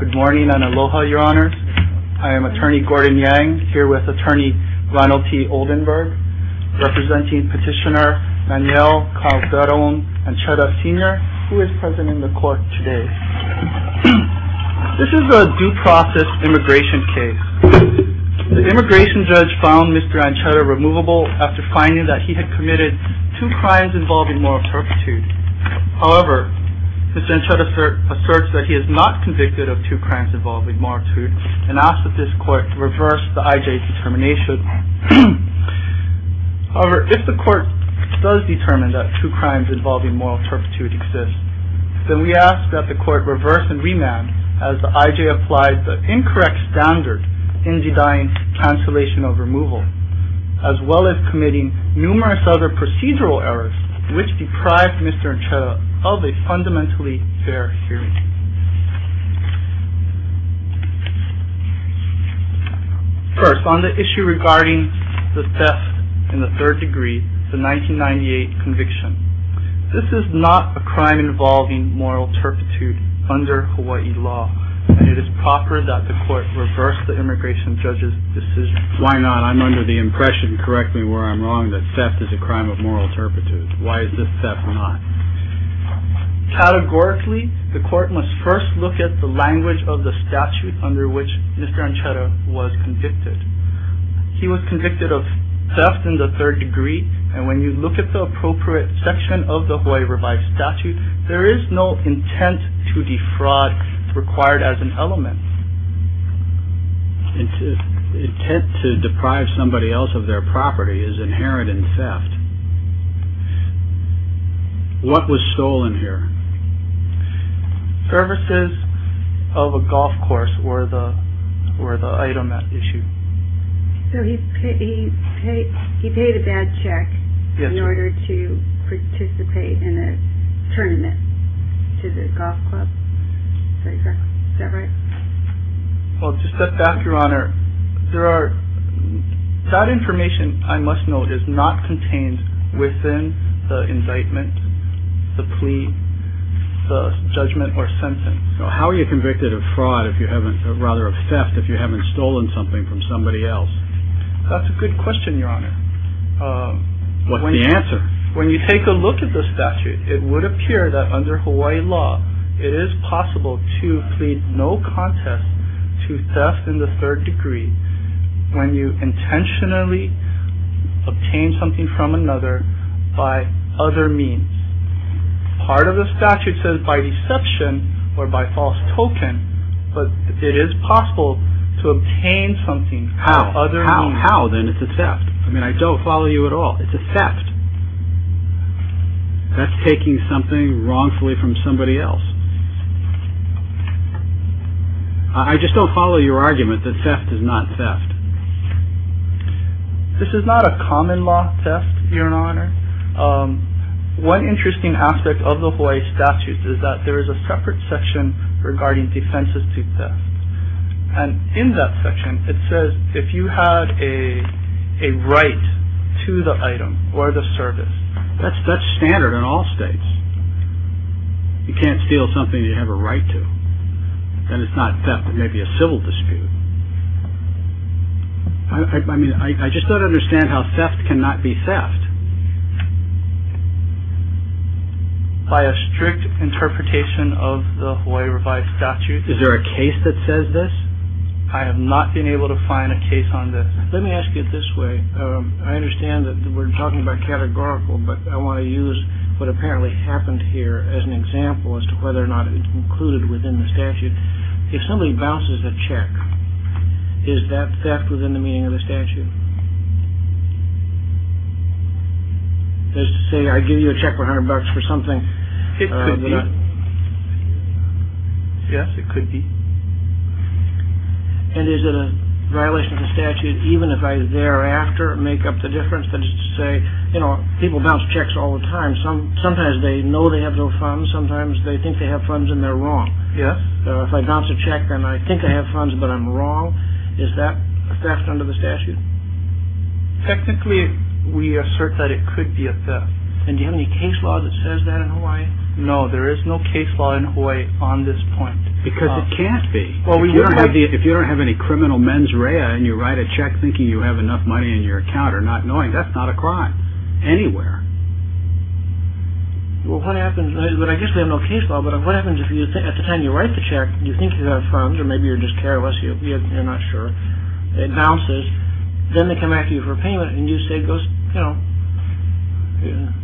Good morning and aloha your honors. I am attorney Gordon Yang here with attorney Ronald T. Oldenburg representing petitioner Manuel Calderon Ancheta Sr. who is present in the court today. This is a due process immigration case. The immigration judge found Mr. Ancheta removable after finding that he had committed two crimes involving moral turpitude. However, Mr. Ancheta asserts that he is not convicted of two crimes involving moral turpitude and asks that this court reverse the IJ's determination. However, if the court does determine that two crimes involving moral turpitude exist, then we ask that the court reverse and remand as the IJ applies the incorrect standard in denying cancellation of removal, as well as committing numerous other procedural errors which deprived Mr. Ancheta of a fundamentally fair hearing. First, on the issue regarding the theft in the third degree, the 1998 conviction. This is not a crime involving moral turpitude under Hawaii law and it is proper that the court reverse the immigration judge's decision. Why not? I'm under the impression, correct me where I'm wrong, that theft is a crime of moral turpitude. Why is this theft or not? Categorically, the court must first look at the language of the statute under which Mr. Ancheta was convicted. He was convicted of theft in the third degree and when you look at the appropriate section of the Hawaii Revised Statute, there is no intent to defraud required as an element. The intent to deprive somebody else of their property is inherent in theft. What was stolen here? Services of a golf course were the item at issue. So he paid a bad check in order to participate in a tournament to the golf club? Is that right? Well, to step back, Your Honor, that information, I must note, is not contained within the indictment, the plea, the judgment, or sentence. So how are you convicted of fraud if you haven't, or rather of theft, if you haven't stolen something from somebody else? That's a good question, Your Honor. What's the answer? When you take a look at the statute, it would appear that under Hawaii law, it is possible to plead no contest to theft in the third degree when you intentionally obtain something from another by other means. Part of the statute says by deception or by false token, but it is possible to obtain something by other means. How? How then? It's a theft. That's taking something wrongfully from somebody else. I just don't follow your argument that theft is not theft. This is not a common law theft, Your Honor. One interesting aspect of the Hawaii statute is that there is a separate section regarding defenses to theft. And in that section, it says if you have a right to the item or the service. That's standard in all states. You can't steal something you have a right to. Then it's not theft. It may be a civil dispute. I mean, I just don't understand how theft cannot be theft. By a strict interpretation of the Hawaii Revised Statute. Is there a case that says this? I have not been able to find a case on this. Let me ask you this way. I understand that we're talking about categorical, but I want to use what apparently happened here as an example as to whether or not it's included within the statute. If somebody bounces a check, is that theft within the meaning of the statute? Let's say I give you a check for a hundred bucks for something. It could be. Yes, it could be. And is it a violation of the statute? Even if I thereafter make up the difference that is to say, you know, people bounce checks all the time. Sometimes they know they have no funds. Sometimes they think they have funds and they're wrong. Yes. If I bounce a check and I think I have funds, but I'm wrong, is that theft under the statute? Technically, we assert that it could be a theft. And do you have any case law that says that in Hawaii? No, there is no case law in Hawaii on this point. Because it can't be. Well, if you don't have any criminal mens rea and you write a check thinking you have enough money in your account or not knowing that's not a crime anywhere. Well, what happens? But I guess we have no case law. But what happens if you think at the time you write the check, you think you have funds or maybe you're just careless, you're not sure it bounces. Then they come back to you for payment. And you say, you know,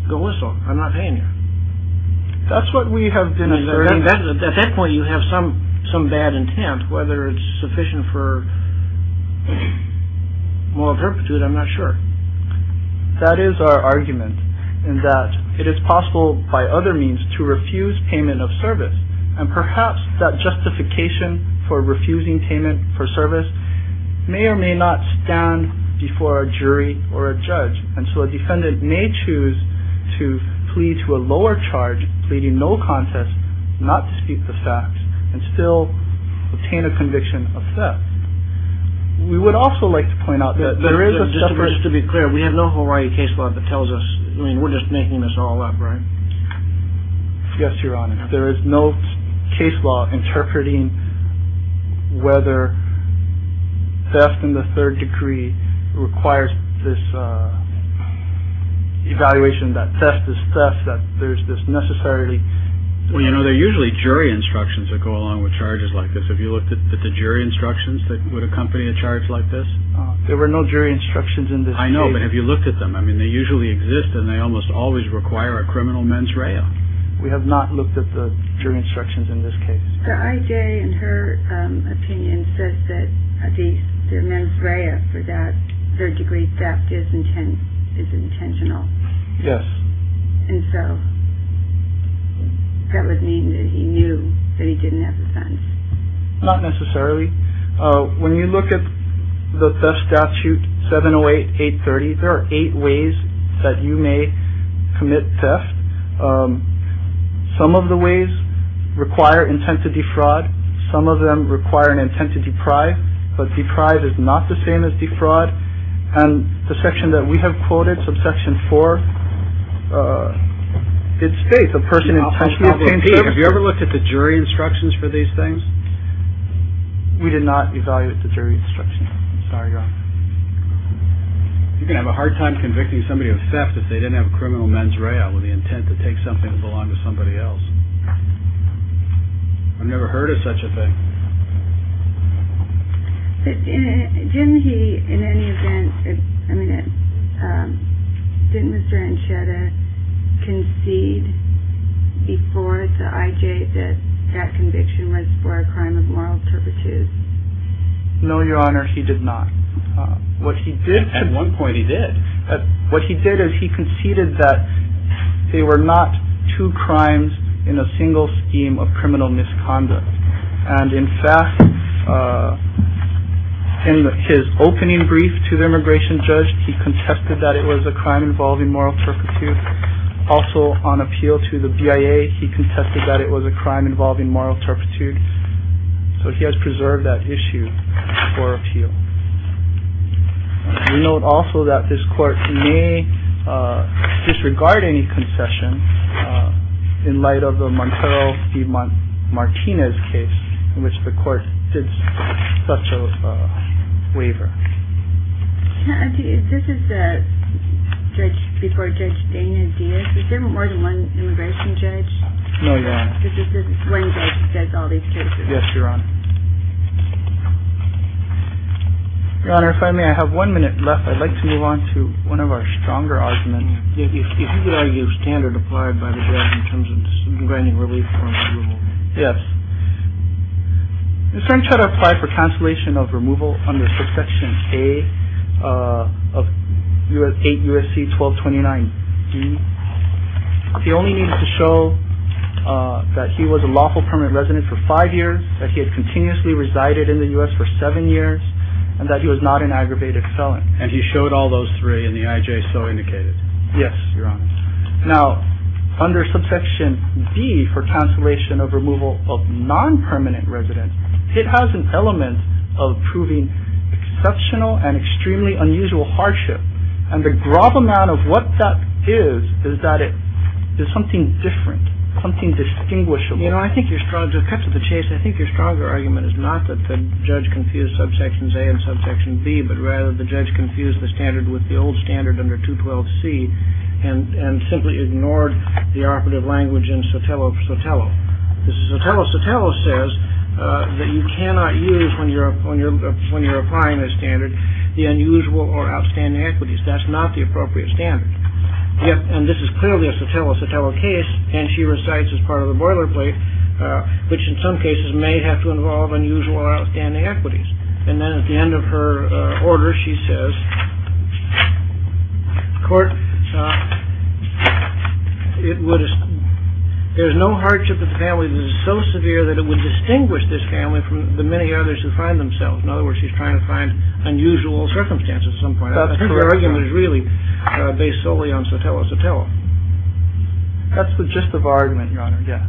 go whistle. I'm not paying you. That's what we have been at that point. You have some some bad intent, whether it's sufficient for more perpetuity. I'm not sure that is our argument and that it is possible by other means to refuse payment of service. And perhaps that justification for refusing payment for service may or may not stand before a jury or a judge. And so a defendant may choose to plead to a lower charge, pleading no contest, not to speak the facts and still obtain a conviction of theft. We would also like to point out that there is a difference to be clear. We have no Hawaii case law that tells us. I mean, we're just making this all up. Right. Yes, Your Honor. There is no case law interpreting whether theft in the third degree requires this evaluation that theft is theft, that there's this necessity. Well, you know, they're usually jury instructions that go along with charges like this. Have you looked at the jury instructions that would accompany a charge like this? There were no jury instructions in this. I know. But have you looked at them? I mean, they usually exist and they almost always require a criminal mens rea. We have not looked at the jury instructions in this case. I.J., in her opinion, says that the mens rea for that third degree theft is intent, is intentional. Yes. And so that would mean that he knew that he didn't have offense. Not necessarily. When you look at the statute, 708 830, there are eight ways that you may commit theft. Some of the ways require intent to defraud. Some of them require an intent to deprive. But deprived is not the same as defraud. And the section that we have quoted subsection four, it states a person intentionally. Have you ever looked at the jury instructions for these things? We did not evaluate the jury instruction. Sorry. You can have a hard time convicting somebody of theft if they didn't have a criminal mens rea with the intent to take something that belonged to somebody else. I've never heard of such a thing. Didn't he in any event, I mean, didn't Mr. Encheta concede before the I.J. that that conviction was for a crime of moral turpitude? No, Your Honor, he did not. What he did. At one point he did. But what he did is he conceded that they were not two crimes in a single scheme of criminal misconduct. And in fact, in his opening brief to the immigration judge, he contested that it was a crime involving moral turpitude. Also on appeal to the BIA, he contested that it was a crime involving moral turpitude. So he has preserved that issue for appeal. We note also that this court may disregard any concession in light of the Montero Martinez case in which the court did such a waiver. This is the judge before Judge Dana Diaz. Is there more than one immigration judge? No, Your Honor. This is the one judge that does all these cases. Yes, Your Honor. Your Honor, if I may, I have one minute left. I'd like to move on to one of our stronger arguments. If you could argue standard applied by the judge in terms of grinding relief for removal. Yes. This judge applied for cancellation of removal under subsection A of 8 U.S.C. 1229 D. He only needed to show that he was a lawful permanent resident for five years, that he had continuously resided in the U.S. for seven years, and that he was not an aggravated felon. And he showed all those three and the I.J. so indicated. Yes, Your Honor. Now, under subsection B for cancellation of removal of non-permanent residents, it has an element of proving exceptional and extremely unusual hardship. And the grob amount of what that is, is that it is something different, something distinguishable. You know, I think you're strong. To cut to the chase, I think your stronger argument is not that the judge confused subsections A and subsection B, but rather the judge confused the standard with the old standard under 212 C and simply ignored the operative language in Sotelo Sotelo. This is Sotelo Sotelo says that you cannot use when you're when you're when you're applying a standard, the unusual or outstanding equities. That's not the appropriate standard. And this is clearly a Sotelo Sotelo case. And she recites as part of the boilerplate, which in some cases may have to involve unusual or outstanding equities. And then at the end of her order, she says, court, it would. There's no hardship of the family that is so severe that it would distinguish this family from the many others who find themselves. In other words, she's trying to find unusual circumstances. Some point. That's her argument is really based solely on Sotelo Sotelo. That's the gist of our argument, Your Honor. Yes.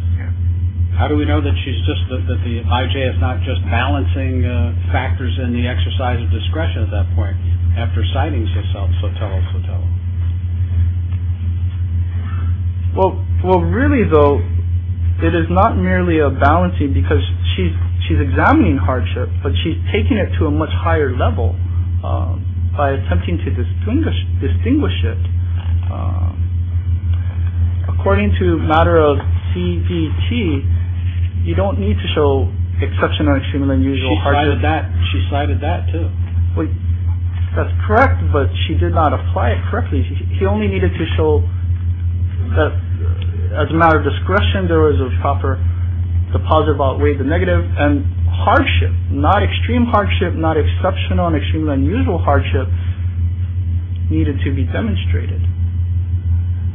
How do we know that she's just that the IJ is not just balancing factors in the exercise of discretion at that point after citing Sotelo Sotelo? Well, really, though, it is not merely a balancing because she's she's examining hardship, but she's taking it to a much higher level by attempting to distinguish distinguish it. According to a matter of CBT, you don't need to show exceptional, extremely unusual hardship. She cited that. She cited that, too. That's correct. But she did not apply it correctly. She only needed to show that as a matter of discretion, there was a proper positive outweigh the negative and hardship, not extreme hardship, not exceptional and extremely unusual hardship needed to be demonstrated.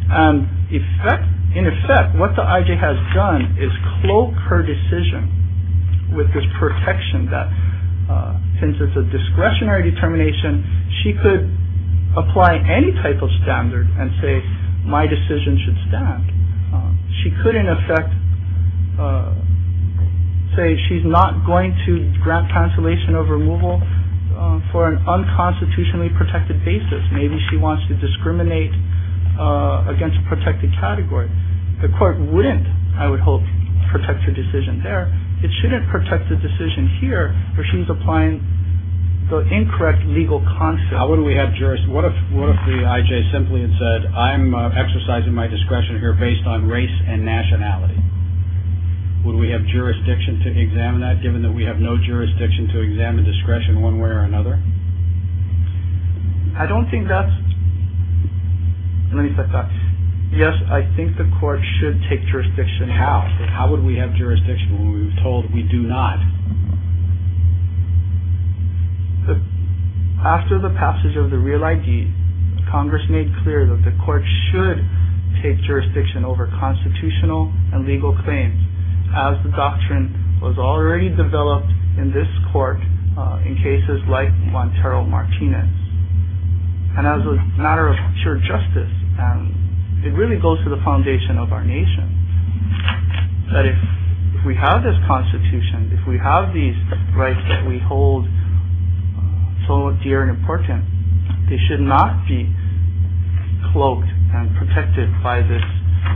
And in effect, what the IJ has done is cloak her decision with this protection that since it's a discretionary determination, she could apply any type of standard and say my decision should stand. She could, in effect, say she's not going to grant cancellation of removal for an unconstitutionally protected basis. Maybe she wants to discriminate against protected category. The court wouldn't, I would hope, protect her decision there. It shouldn't protect the decision here where she's applying the incorrect legal concept. What if the IJ simply had said I'm exercising my discretion here based on race and nationality? Would we have jurisdiction to examine that given that we have no jurisdiction to examine discretion one way or another? I don't think that's. Yes, I think the court should take jurisdiction. But how? How would we have jurisdiction when we were told we do not? After the passage of the Real ID, Congress made clear that the court should take jurisdiction over constitutional and legal claims as the doctrine was already developed in this court in cases like Montero Martinez. And as a matter of pure justice, it really goes to the foundation of our nation. But if we have this constitution, if we have these rights that we hold so dear and important, they should not be cloaked and protected by this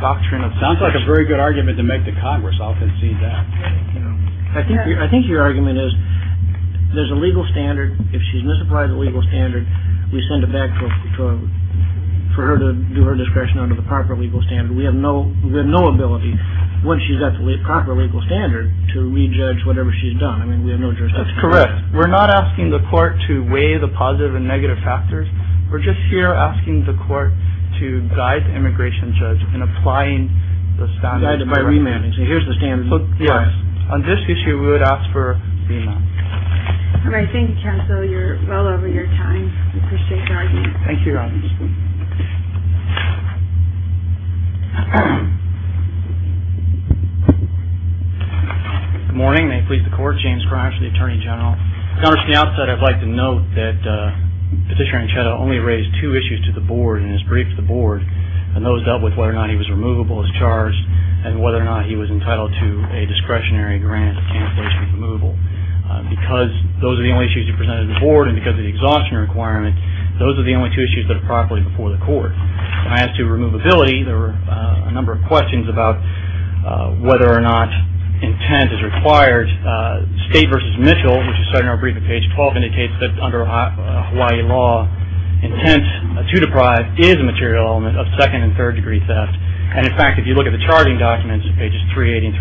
doctrine. It sounds like a very good argument to make to Congress. I'll concede that. I think your argument is there's a legal standard. If she's misapplied the legal standard, we send it back to her for her to do her discretion under the proper legal standard. We have no we have no ability when she's at the proper legal standard to rejudge whatever she's done. I mean, we have no jurisdiction. That's correct. We're not asking the court to weigh the positive and negative factors. We're just here asking the court to guide the immigration judge in applying the standard by remanding. So here's the standard. Yes. On this issue, we would ask for. I think you're well over your time. Thank you. Morning, please. The court, James Cross, the attorney general. Now that I'd like to note that Petitioner Encheta only raised two issues to the board in his brief to the board. And those dealt with whether or not he was removable as charged and whether or not he was entitled to a discretionary grant in place with removal. Because those are the only issues you presented the board and because of the exhaustion requirement, those are the only two issues that are properly before the court. As to removability, there were a number of questions about whether or not intent is required. State v. Mitchell, which is cited in our brief at page 12, indicates that under Hawaii law, intent to deprive is a material element of second and third degree theft. And in fact, if you look at the charging documents at pages 380 and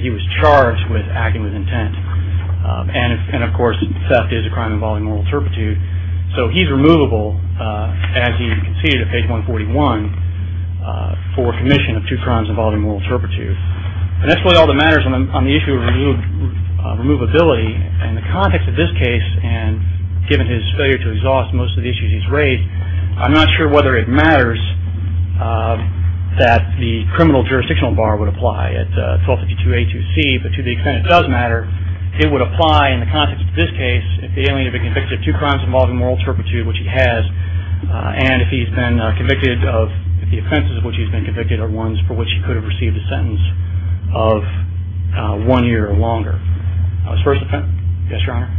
387, he was charged with acting with intent. And of course, theft is a crime involving moral turpitude. So he's removable as he conceded at page 141 for commission of two crimes involving moral turpitude. And that's really all that matters on the issue of removability. In the context of this case, and given his failure to exhaust most of the issues he's raised, I'm not sure whether it matters that the criminal jurisdictional bar would apply at 1252A2C. But to the extent it does matter, it would apply in the context of this case, if the alien had been convicted of two crimes involving moral turpitude, which he has, and if the offenses of which he's been convicted are ones for which he could have received a sentence of one year or longer. Yes, Your Honor?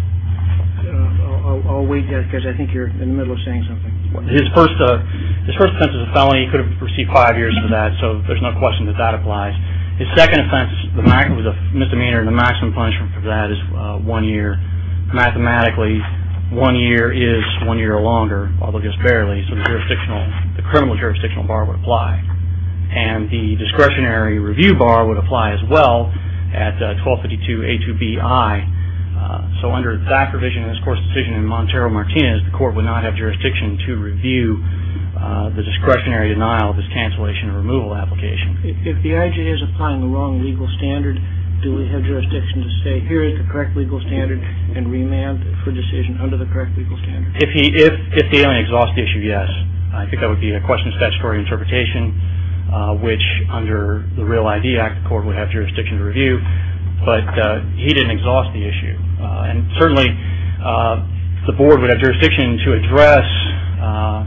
I'll wait, because I think you're in the middle of saying something. His first offense is a felony. He could have received five years for that, so there's no question that that applies. His second offense was a misdemeanor, and the maximum punishment for that is one year. Mathematically, one year is one year or longer, although just barely, so the criminal jurisdictional bar would apply. And the discretionary review bar would apply as well at 1252A2BI. So under that provision in this court's decision in Montero-Martinez, the court would not have jurisdiction to review the discretionary denial of his cancellation or removal application. If the IG is applying the wrong legal standard, do we have jurisdiction to say, here is the correct legal standard and remand for decision under the correct legal standard? If the alien exhausts the issue, yes. I think that would be a question of statutory interpretation, which under the Real ID Act, the court would have jurisdiction to review, but he didn't exhaust the issue. And certainly, the board would have jurisdiction to address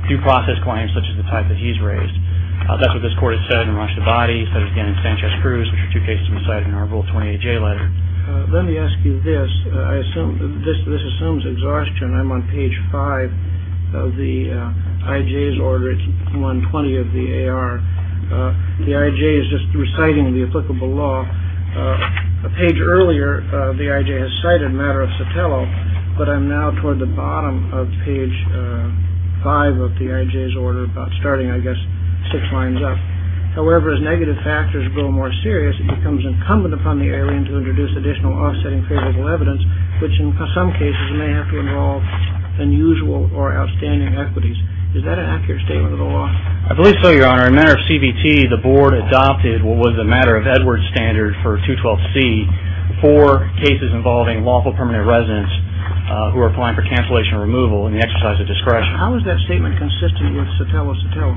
due process claims such as the type that he's raised. That's what this court has said in the launch of the body. He said it again in Sanchez-Cruz, which are two cases we cite in our Rule 28J letter. Let me ask you this. I assume this assumes exhaustion. I'm on page five of the IJ's order. It's 120 of the AR. The IJ is just reciting the applicable law. A page earlier, the IJ has cited a matter of Sotelo, but I'm now toward the bottom of page five of the IJ's order. We're about starting, I guess, six lines up. However, as negative factors grow more serious, it becomes incumbent upon the alien to introduce additional offsetting favorable evidence, which in some cases may have to involve unusual or outstanding equities. Is that an accurate statement of the law? I believe so, Your Honor. In a matter of CBT, the board adopted what was a matter of Edwards standard for 212C for cases involving lawful permanent residents who are applying for cancellation or removal in the exercise of discretion. How is that statement consistent with Sotelo-Sotelo?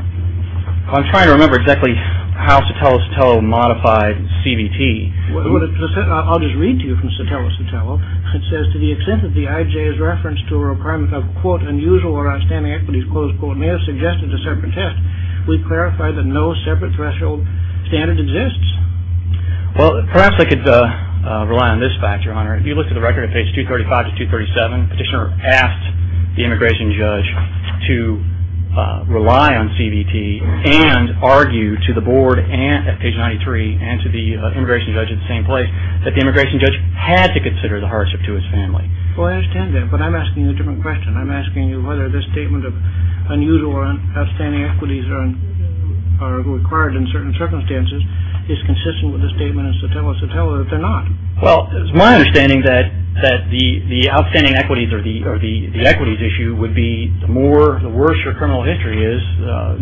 I'm trying to remember exactly how Sotelo-Sotelo modified CBT. I'll just read to you from Sotelo-Sotelo. It says, to the extent that the IJ is referenced to a requirement of, quote, unusual or outstanding equities, close quote, may have suggested a separate test. We clarify that no separate threshold standard exists. Well, perhaps I could rely on this fact, Your Honor. If you look at the record at page 235 to 237, petitioner asked the immigration judge to rely on CBT and argue to the board at page 93 and to the immigration judge at the same place that the immigration judge had to consider the hardship to his family. Well, I understand that, but I'm asking you a different question. I'm asking you whether this statement of unusual or outstanding equities are required in certain circumstances is consistent with the statement in Sotelo-Sotelo that they're not. Well, it's my understanding that the outstanding equities or the equities issue would be the worse your criminal history is.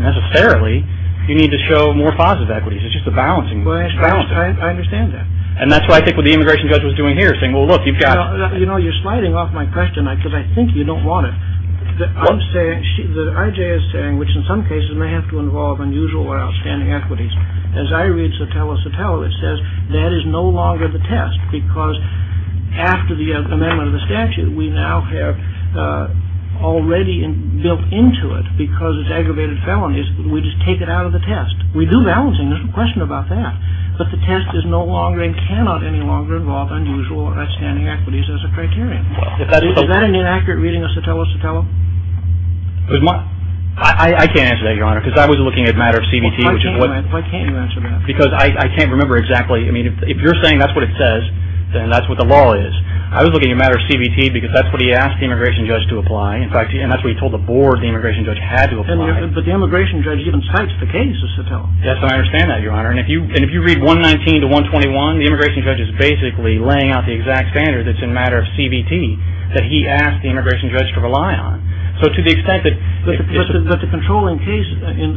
Necessarily, you need to show more positive equities. It's just a balancing. Well, I understand that. And that's why I think what the immigration judge was doing here, saying, well, look, you've got... You know, you're sliding off my question because I think you don't want it. I'm saying, the IJ is saying, which in some cases may have to involve unusual or outstanding equities. As I read Sotelo-Sotelo, it says that is no longer the test because after the amendment of the statute, we now have already built into it, because it's aggravated felonies, we just take it out of the test. We do balancing. There's no question about that. But the test is no longer and cannot any longer involve unusual or outstanding equities as a criterion. Is that an inaccurate reading of Sotelo-Sotelo? I can't answer that, Your Honor, because I was looking at a matter of CBT, which is what... Why can't you answer that? Because I can't remember exactly. I mean, if you're saying that's what it says, then that's what the law is. I was looking at a matter of CBT because that's what he asked the immigration judge to apply. In fact, and that's what he told the board the immigration judge had to apply. But the immigration judge even cites the case of Sotelo. Yes, and I understand that, Your Honor. And if you read 119 to 121, the immigration judge is basically laying out the exact standard that's in a matter of CBT that he asked the immigration judge to rely on. So to the extent that... But the controlling case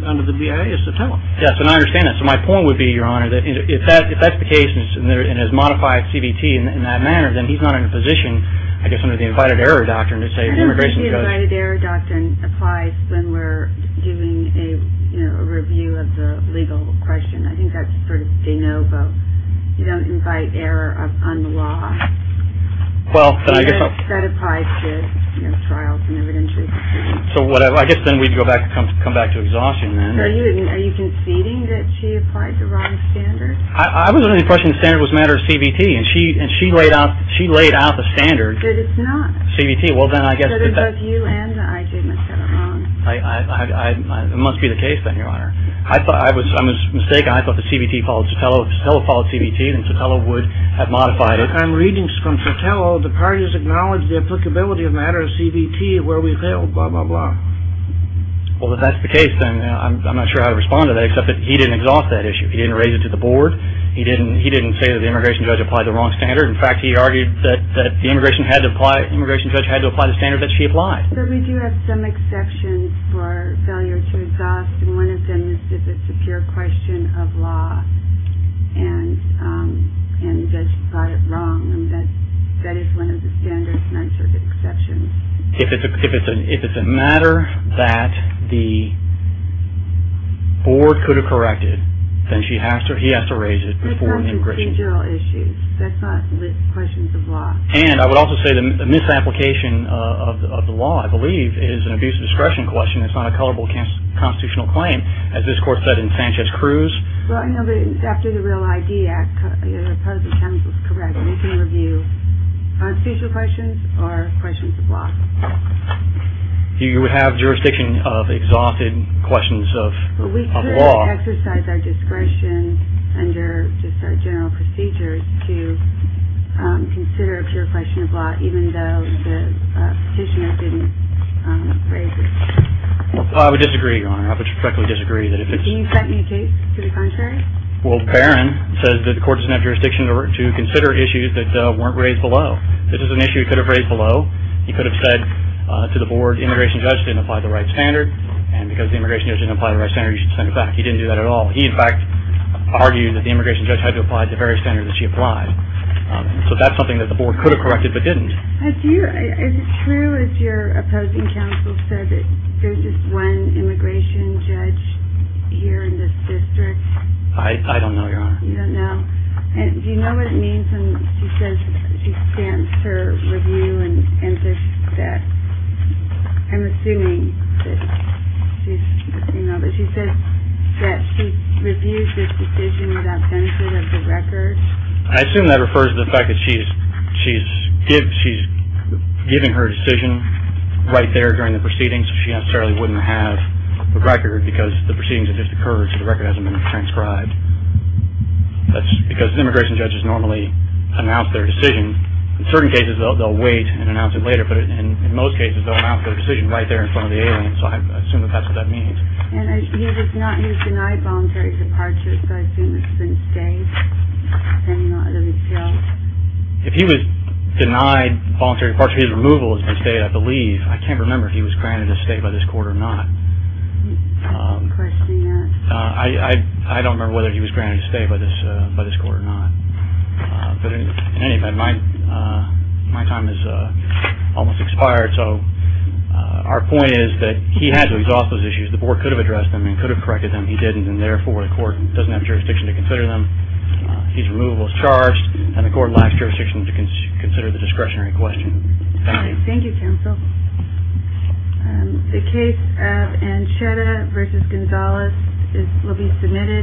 under the BIA is Sotelo. Yes, and I understand that. So my point would be, Your Honor, that if that's the case and has modified CBT in that manner, then he's not in a position, I guess under the invited error doctrine, to say the immigration judge... I don't think the invited error doctrine applies when we're doing a review of the legal question. I think that's sort of de novo. You don't invite error on the law. Well, then I guess... That applies to trials and evidentiary proceedings. So I guess then we'd come back to exhaustion then. Are you conceding that she applied the wrong standard? I was under the impression the standard was a matter of CBT, and she laid out the standard. But it's not. CBT. Well, then I guess... But it was you and the IG that set it wrong. It must be the case then, Your Honor. I thought I was mistaken. I thought the CBT followed Sotelo. If Sotelo followed CBT, then Sotelo would have modified it. I'm reading from Sotelo, the parties acknowledge the applicability of a matter of CBT where we failed, blah, blah, blah. Well, if that's the case, then I'm not sure how to respond to that, except that he didn't exhaust that issue. He didn't raise it to the board. He didn't say that the immigration judge applied the wrong standard. In fact, he argued that the immigration judge had to apply the standard that she applied. But we do have some exceptions for failure to exhaust. And one of them is if it's a pure question of law and the judge got it wrong. And that is one of the standards, and I'm sure there are exceptions. If it's a matter that the board could have corrected, then he has to raise it before the immigration judge. That's not a procedural issue. That's not questions of law. And I would also say the misapplication of the law, I believe, is an abuse of discretion question. It's not a colorable constitutional claim, as this court said in Sanchez-Cruz. Well, I know that after the Real ID Act, part of the counsel's correct. We can review constitutional questions or questions of law. You would have jurisdiction of exhausted questions of law. We could exercise our discretion under just our general procedures to consider a pure question of law, even though the petitioner didn't raise it. I would disagree, Your Honor. I would directly disagree that if it's. Can you cite any case to the contrary? Well, Barron says that the court doesn't have jurisdiction to consider issues that weren't raised below. This is an issue he could have raised below. He could have said to the board, the immigration judge didn't apply the right standard, and because the immigration judge didn't apply the right standard, you should send it back. He didn't do that at all. He, in fact, argued that the immigration judge had to apply the very standard that she applied. So that's something that the board could have corrected but didn't. Is it true, as your opposing counsel said, that there's just one immigration judge here in this district? I don't know, Your Honor. You don't know? And do you know what it means when she says she stands to review and says that? I'm assuming that she's, you know, that she says that she reviews this decision without benefit of the record. I assume that refers to the fact that she's given her decision right there during the proceedings, so she necessarily wouldn't have a record because the proceedings have just occurred, so the record hasn't been transcribed. That's because immigration judges normally announce their decision. In certain cases, they'll wait and announce it later, but in most cases they'll announce their decision right there in front of the alien, so I assume that that's what that means. And he's denied voluntary departure, so I assume it's been stayed, depending on the detail. If he was denied voluntary departure, his removal has been stayed, I believe. I can't remember if he was granted a stay by this court or not. I'm questioning that. I don't remember whether he was granted a stay by this court or not. But in any event, my time has almost expired, so our point is that he had to exhaust those issues. The board could have addressed them and could have corrected them. He didn't, and therefore the court doesn't have jurisdiction to consider them. His removal is charged, and the court lacks jurisdiction to consider the discretionary question. Thank you. Thank you, counsel. The case of Ancheta v. Gonzalez will be submitted.